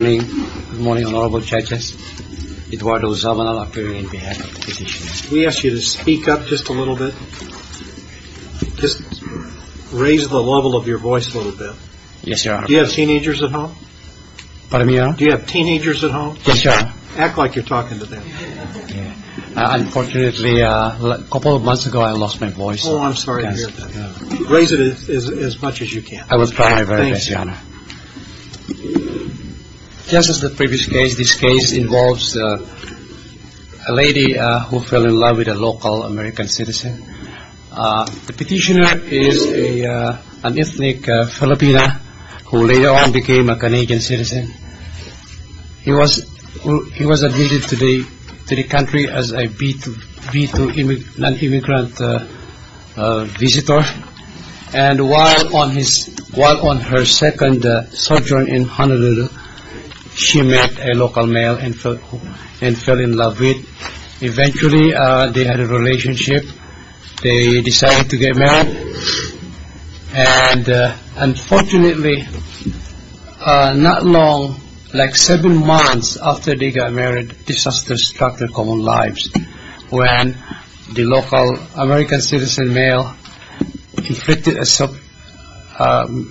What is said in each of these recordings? Good morning. Good morning, Honorable Judges. Eduardo Zamanal appearing on behalf of the petitioners. We ask you to speak up just a little bit. Just raise the level of your voice a little bit. Yes, Your Honor. Do you have teenagers at home? Pardon me, Your Honor? Do you have teenagers at home? Yes, Your Honor. Act like you're talking to them. Unfortunately, a couple of months ago, I lost my voice. Oh, I'm sorry to hear that. Raise it as much as you can. I will try my very best, Your Honor. Just as the previous case, this case involves a lady who fell in love with a local American citizen. The petitioner is an ethnic Filipina who later on became a Canadian citizen. He was admitted to the country as a B2 non-immigrant visitor. And while on her second sojourn in Honolulu, she met a local male and fell in love with. Eventually, they had a relationship. They decided to get married. And unfortunately, not long, like seven months after they got married, disaster struck their common lives when the local American citizen male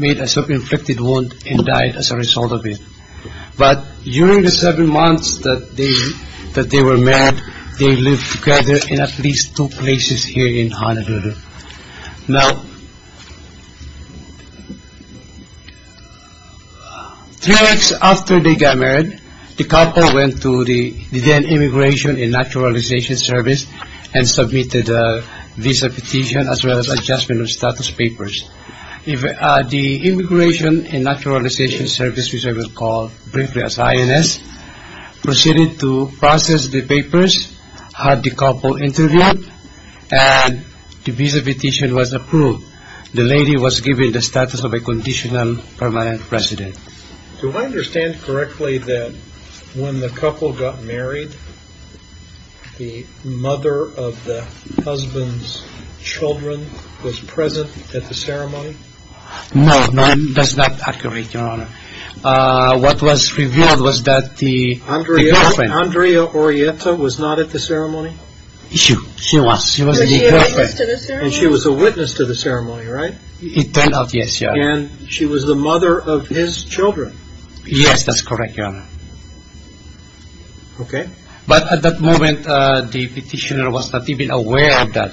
made a self-inflicted wound and died as a result of it. But during the seven months that they were married, they lived together in at least two places here in Honolulu. Now, three weeks after they got married, the couple went to the then Immigration and Naturalization Service and submitted a visa petition as well as adjustment of status papers. The Immigration and Naturalization Service, which I will call briefly as INS, proceeded to process the papers, had the couple interviewed, and the visa petition was approved. The lady was given the status of a conditional permanent resident. Do I understand correctly that when the couple got married, the mother of the husband's children was present at the ceremony? No, none. That's not accurate, Your Honor. What was revealed was that the girlfriend... She was. She was the girlfriend. Was she a witness to the ceremony? And she was a witness to the ceremony, right? It turned out, yes, Your Honor. And she was the mother of his children. Yes, that's correct, Your Honor. Okay. But at that moment, the petitioner was not even aware of that.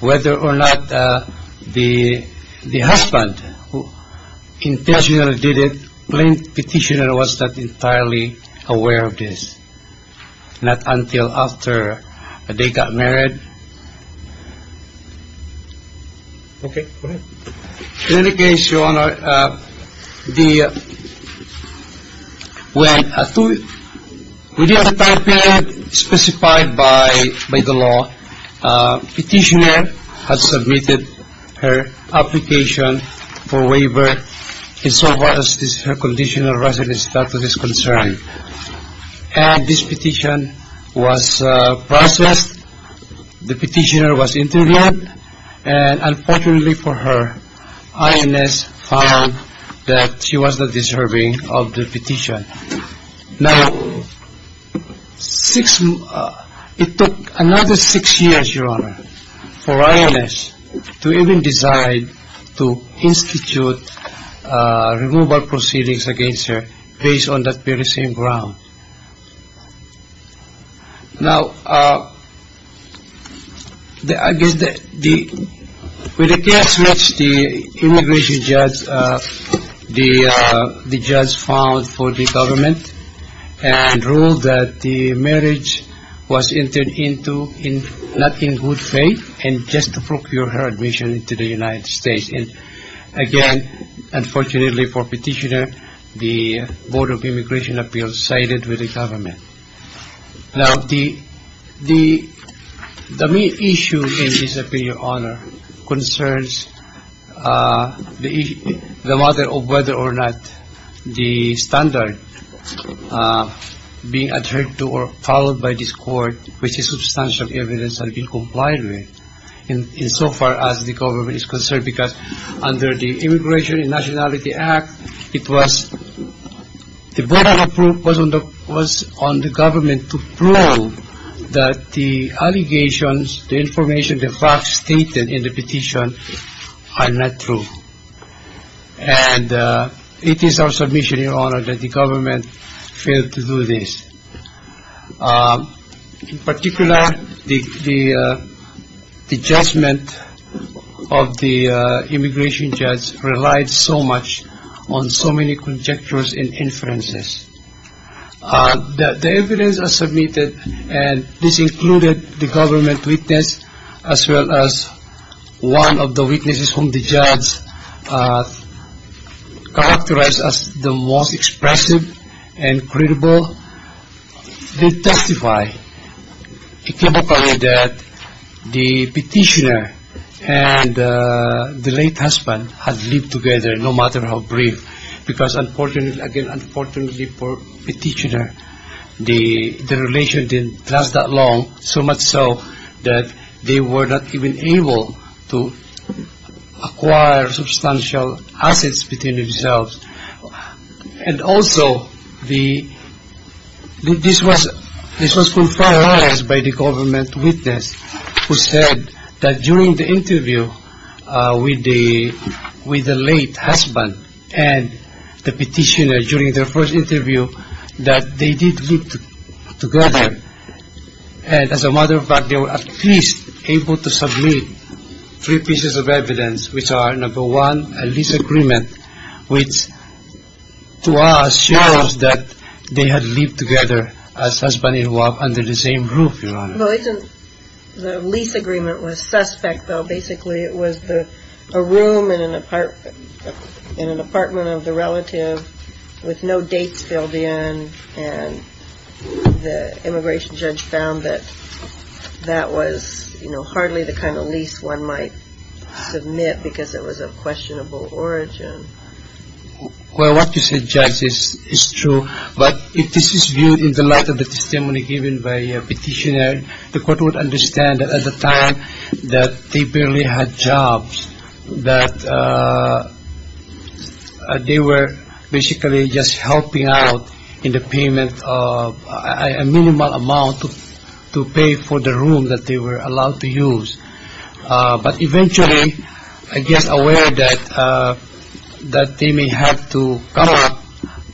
Whether or not the husband intentionally did it, the petitioner was not entirely aware of this. Not until after they got married. Okay. Go ahead. In any case, Your Honor, the... When... Within the time period specified by the law, the petitioner had submitted her application for waiver insofar as her conditional resident status is concerned. And this petition was processed, the petitioner was interviewed, and unfortunately for her, INS found that she was not deserving of the petition. Now, six... Now, I guess the... With the case which the immigration judge, the judge found for the government and ruled that the marriage was entered into not in good faith and just to procure her admission into the United States. And again, unfortunately for the petitioner, the Board of Immigration Appeals sided with the government. Now, the main issue in this opinion, Your Honor, concerns the matter of whether or not the standard being adhered to or followed by this court which is substantial evidence had been complied with insofar as the government is concerned because under the Immigration and Nationality Act, it was... The Board of Approval was on the government to prove that the allegations, the information, the facts stated in the petition are not true. And it is our submission, Your Honor, that the government failed to do this. In particular, the judgment of the immigration judge relied so much on so many conjectures and inferences. The evidence submitted, and this included the government witness as well as one of the witnesses whom the judge characterized as the most expressive and credible, did testify. It came upon me that the petitioner and the late husband had lived together no matter how brief because, again, unfortunately for the petitioner, the relation didn't last that long, so much so that they were not even able to acquire substantial assets between themselves. And also, this was confirmed by the government witness who said that during the interview with the late husband and the petitioner during their first interview that they did live together and as a matter of fact, they were at least able to submit three pieces of evidence which are, number one, a lease agreement which to us shows that they had lived together as husband and wife under the same roof, Your Honor. Well, the lease agreement was suspect though. Basically, it was a room in an apartment of the relative with no dates filled in and the immigration judge found that that was hardly the kind of lease one might submit because it was of questionable origin. Well, what you said, Judge, is true. But if this is viewed in the light of the testimony given by a petitioner, the court would understand that at the time that they barely had jobs, that they were basically just helping out in the payment of a minimal amount to pay for the room that they were allowed to use. But eventually, I guess aware that they may have to come up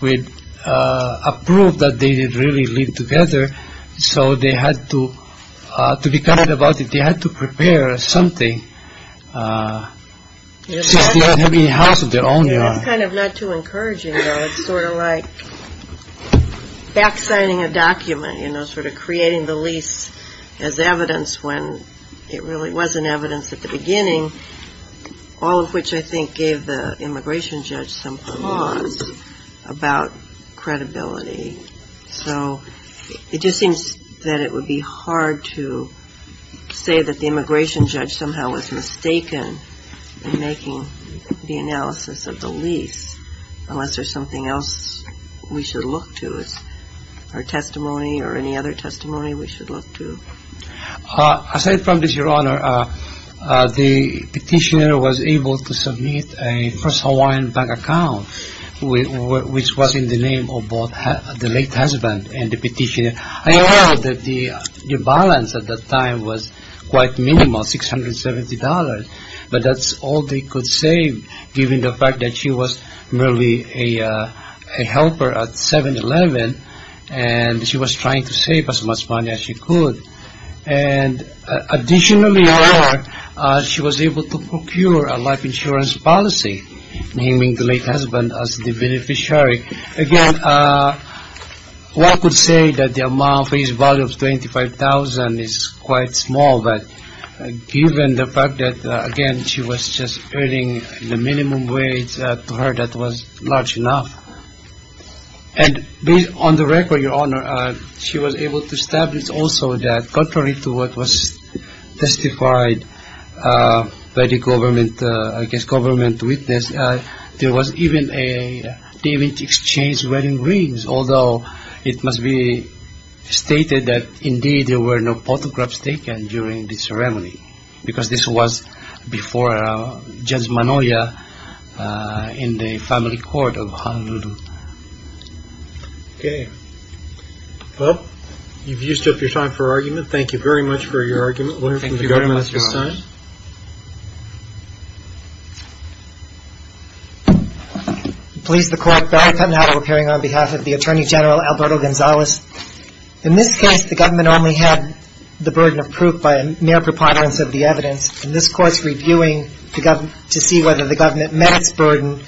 with a proof that they did really live together, so they had to be kind about it. They had to prepare something since they were living in a house of their own, Your Honor. It's kind of not too encouraging though. It's sort of like back signing a document, you know, sort of creating the lease as evidence when it really wasn't evidence at the beginning, all of which I think gave the immigration judge some flaws about credibility. So it just seems that it would be hard to say that the immigration judge somehow was mistaken in making the analysis of the lease unless there's something else we should look to, or testimony or any other testimony we should look to. Aside from this, Your Honor, the petitioner was able to submit a First Hawaiian Bank account, which was in the name of both the late husband and the petitioner. I know that the balance at that time was quite minimal, $670, but that's all they could save given the fact that she was merely a helper at 7-Eleven and she was trying to save as much money as she could. Additionally, Your Honor, she was able to procure a life insurance policy, naming the late husband as the beneficiary. Again, one could say that the amount for his value of $25,000 is quite small, but given the fact that, again, she was just earning the minimum wage to her that was large enough. And on the record, Your Honor, she was able to establish also that, contrary to what was testified by the government witness, there was even a David Exchange wedding rings, although it must be stated that, indeed, there were no photographs taken during the ceremony, because this was before Judge Manoia in the family court of Honolulu. Okay. Well, you've used up your time for argument. Thank you very much for your argument. Thank you very much, Your Honor. Would you like to sign? Please, the court. Barry Pendenhall, appearing on behalf of the Attorney General, Alberto Gonzalez. In this case, the government only had the burden of proof by mere preponderance of the evidence. And this Court's reviewing to see whether the government met its burden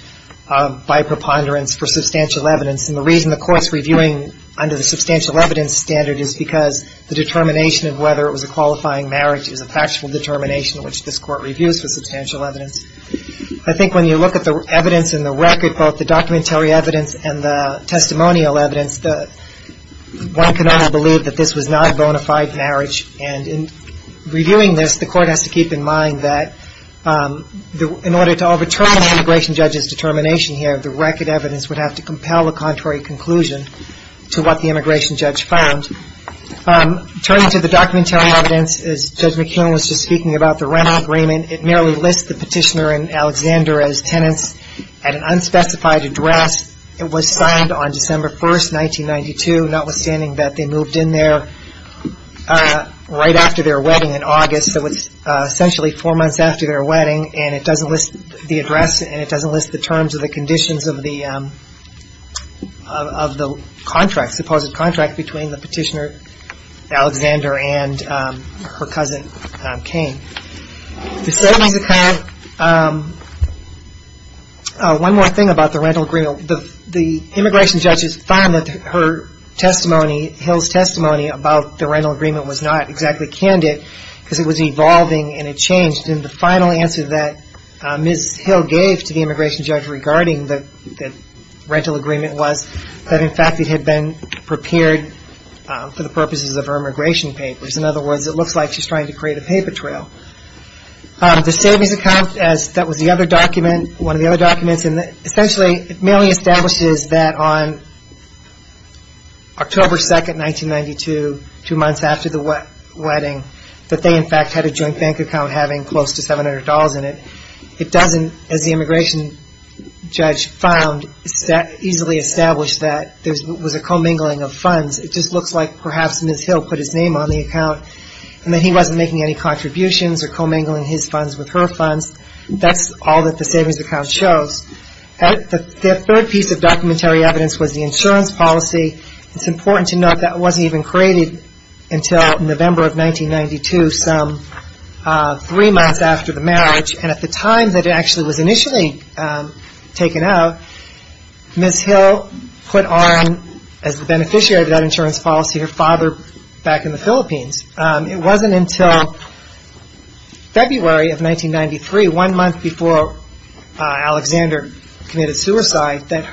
by preponderance for substantial evidence. And the reason the Court's reviewing under the substantial evidence standard is because the determination of whether it was a qualifying marriage is a factual determination, which this Court reviews for substantial evidence. I think when you look at the evidence in the record, both the documentary evidence and the testimonial evidence, one can only believe that this was not a bona fide marriage. And in reviewing this, the Court has to keep in mind that in order to overturn an immigration judge's determination here, the record evidence would have to compel a contrary conclusion to what the immigration judge found. Turning to the documentary evidence, as Judge McKeon was just speaking about, the rental agreement, it merely lists the petitioner and Alexander as tenants at an unspecified address. It was signed on December 1st, 1992. Notwithstanding that they moved in there right after their wedding in August, so it's essentially four months after their wedding, and it doesn't list the address and it doesn't list the terms or the conditions of the contract, supposed contract between the petitioner, Alexander, and her cousin, Kane. The settlements account, one more thing about the rental agreement. The immigration judge has found that her testimony, Hill's testimony about the rental agreement was not exactly candid because it was evolving and it changed. And the final answer that Ms. Hill gave to the immigration judge regarding the rental agreement was that, in fact, it had been prepared for the purposes of her immigration papers. In other words, it looks like she's trying to create a paper trail. The savings account, as that was the other document, one of the other documents, and essentially it merely establishes that on October 2nd, 1992, two months after the wedding, that they, in fact, had a joint bank account having close to $700 in it. It doesn't, as the immigration judge found, easily establish that there was a commingling of funds. It just looks like perhaps Ms. Hill put his name on the account and that he wasn't making any contributions or commingling his funds with her funds. That's all that the savings account shows. The third piece of documentary evidence was the insurance policy. It's important to note that it wasn't even created until November of 1992, some three months after the marriage. And at the time that it actually was initially taken out, Ms. Hill put on, as the beneficiary of that insurance policy, her father back in the Philippines. It wasn't until February of 1993, one month before Alexander committed suicide, that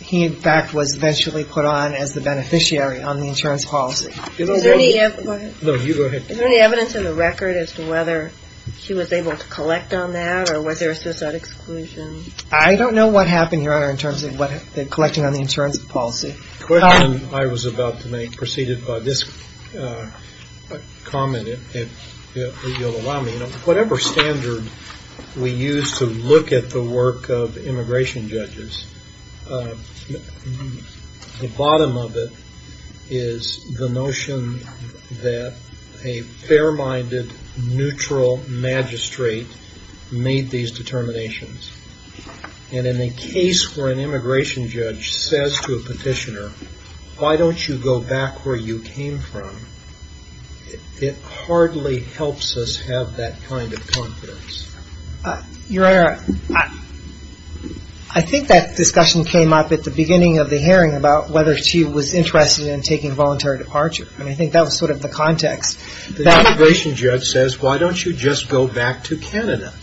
he, in fact, was eventually put on as the beneficiary on the insurance policy. Is there any evidence in the record as to whether she was able to collect on that or was there a suicide exclusion? I don't know what happened, Your Honor, in terms of collecting on the insurance policy. The question I was about to make preceded by this comment, if you'll allow me. Whatever standard we use to look at the work of immigration judges, the bottom of it is the notion that a fair-minded, neutral magistrate made these determinations. And in a case where an immigration judge says to a petitioner, why don't you go back where you came from, it hardly helps us have that kind of confidence. Your Honor, I think that discussion came up at the beginning of the hearing about whether she was interested in taking voluntary departure. And I think that was sort of the context. The immigration judge says, why don't you just go back to Canada?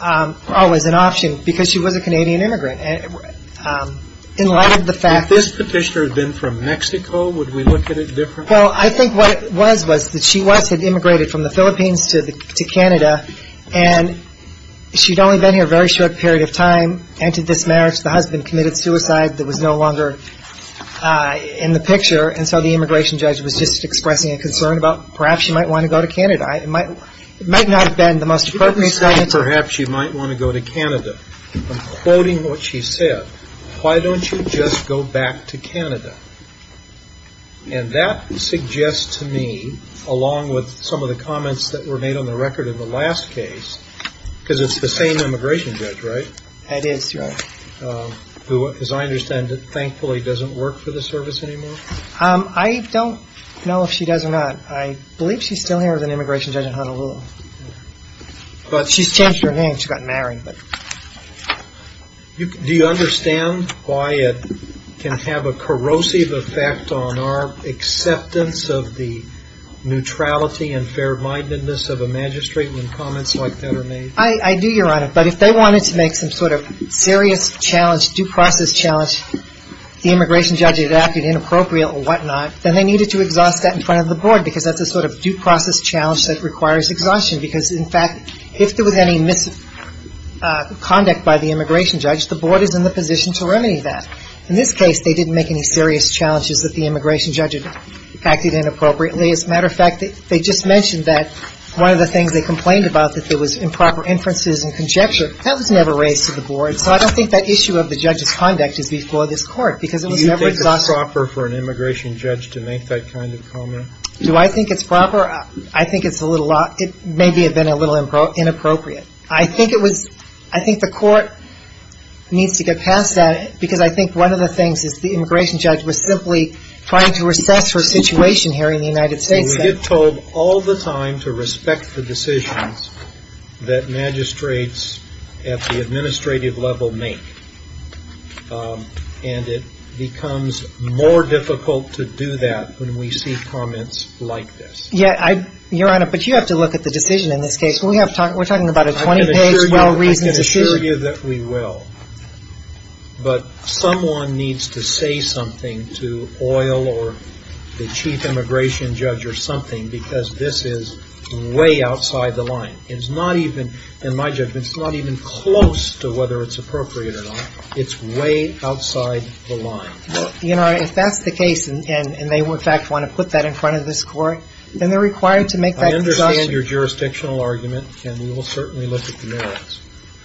Oh, as an option. Because she was a Canadian immigrant. In light of the fact that this petitioner had been from Mexico, would we look at it differently? Well, I think what it was was that she once had immigrated from the Philippines to Canada, and she'd only been here a very short period of time, entered this marriage. The husband committed suicide. That was no longer in the picture. And so the immigration judge was just expressing a concern about perhaps she might want to go to Canada. It might not have been the most appropriate sentence. Perhaps she might want to go to Canada. I'm quoting what she said. Why don't you just go back to Canada? And that suggests to me, along with some of the comments that were made on the record in the last case, because it's the same immigration judge, right? It is, Your Honor. Who, as I understand it, thankfully doesn't work for the service anymore. I don't know if she does or not. I believe she's still here as an immigration judge in Honolulu. She's changed her name. She got married. Do you understand why it can have a corrosive effect on our acceptance of the neutrality and fair-mindedness of a magistrate when comments like that are made? I do, Your Honor. But if they wanted to make some sort of serious challenge, due process challenge, the immigration judge had acted inappropriate or whatnot, then they needed to exhaust that in front of the board because that's a sort of due process challenge that requires exhaustion because, in fact, if there was any misconduct by the immigration judge, the board is in the position to remedy that. In this case, they didn't make any serious challenges that the immigration judge had acted inappropriately. As a matter of fact, they just mentioned that one of the things they complained about, that there was improper inferences and conjecture, that was never raised to the board. So I don't think that issue of the judge's conduct is before this Court because it was never exhausted. Do you think it's proper for an immigration judge to make that kind of comment? Do I think it's proper? I think it may have been a little inappropriate. I think the Court needs to get past that because I think one of the things is the immigration judge was simply trying to assess her situation here in the United States. We get told all the time to respect the decisions that magistrates at the administrative level make, and it becomes more difficult to do that when we see comments like this. Yeah. Your Honor, but you have to look at the decision in this case. We're talking about a 20-page well-reasoned decision. I can assure you that we will, but someone needs to say something to Oyl or the chief immigration judge or something because this is way outside the line. It's not even, in my judgment, it's not even close to whether it's appropriate or not. It's way outside the line. Your Honor, if that's the case and they, in fact, want to put that in front of this Court, then they're required to make that discussion. I understand your jurisdictional argument, and we will certainly look at the merits.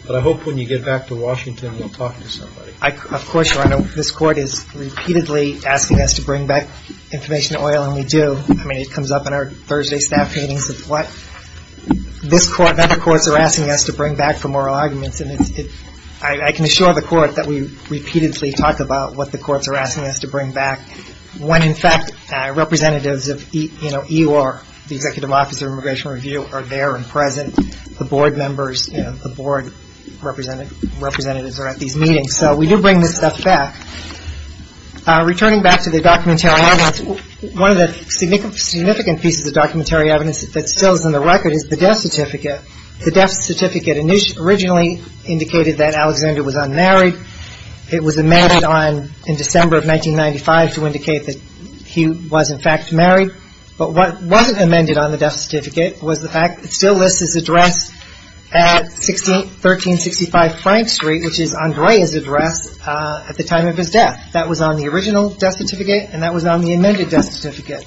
But I hope when you get back to Washington, we'll talk to somebody. Of course, Your Honor. This Court is repeatedly asking us to bring back information to Oyl, and we do. I mean, it comes up in our Thursday staff meetings. It's what this Court and other courts are asking us to bring back for moral arguments, and I can assure the Court that we repeatedly talk about what the courts are asking us to bring back. When, in fact, representatives of EOR, the Executive Office of Immigration Review, are there and present, the board members, the board representatives are at these meetings. So we do bring this stuff back. Returning back to the documentary evidence, one of the significant pieces of documentary evidence that still is in the record is the death certificate. The death certificate originally indicated that Alexander was unmarried. It was amended in December of 1995 to indicate that he was, in fact, married. But what wasn't amended on the death certificate was the fact that it still lists his address at 1365 Frank Street, which is Andrea's address at the time of his death. That was on the original death certificate, and that was on the amended death certificate.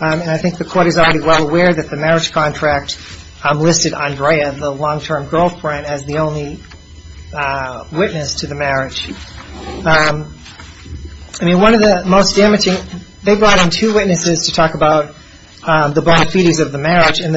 And I think the Court is already well aware that the marriage contract listed Andrea, the long-term girlfriend, as the only witness to the marriage. I mean, one of the most damaging – they brought in two witnesses to talk about the bona fides of the marriage, and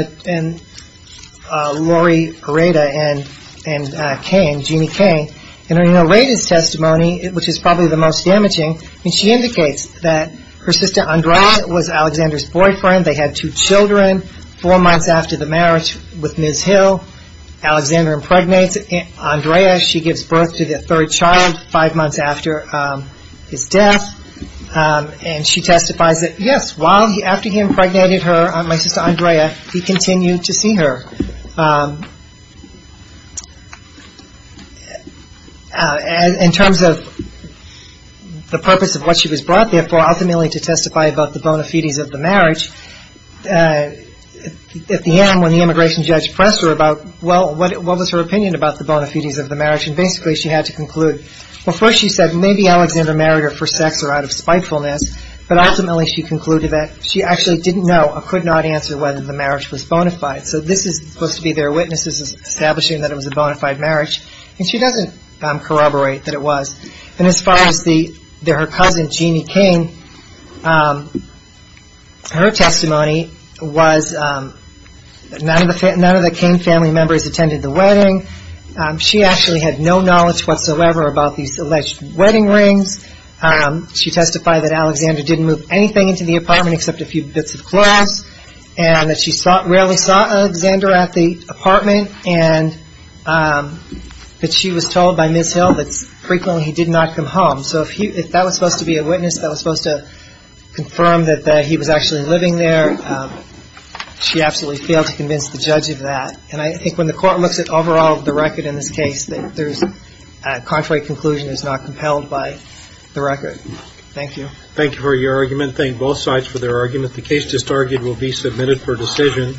Lori Areda and Kane, Jeannie Kane. And Areda's testimony, which is probably the most damaging, she indicates that her sister Andrea was Alexander's boyfriend. They had two children. Four months after the marriage with Ms. Hill, Alexander impregnates Andrea. She gives birth to the third child five months after his death. And she testifies that, yes, after he impregnated her, my sister Andrea, he continued to see her. In terms of the purpose of what she was brought there for, ultimately to testify about the bona fides of the marriage, at the end, when the immigration judge pressed her about, well, what was her opinion about the bona fides of the marriage, and basically she had to conclude, well, first she said, maybe Alexander married her for sex or out of spitefulness, but ultimately she concluded that she actually didn't know or could not answer whether the marriage was bona fide. So this is supposed to be their witnesses establishing that it was a bona fide marriage. And she doesn't corroborate that it was. And as far as her cousin, Jeannie Kane, her testimony was that none of the Kane family members attended the wedding. She actually had no knowledge whatsoever about these alleged wedding rings. She testified that Alexander didn't move anything into the apartment except a few bits of cloths and that she rarely saw Alexander at the apartment, and that she was told by Ms. Hill that frequently he did not come home. So if that was supposed to be a witness, that was supposed to confirm that he was actually living there, she absolutely failed to convince the judge of that. And I think when the Court looks at overall the record in this case, a contrary conclusion is not compelled by the record. Thank you. Thank you for your argument. Thank both sides for their argument. The case just argued will be submitted for decision.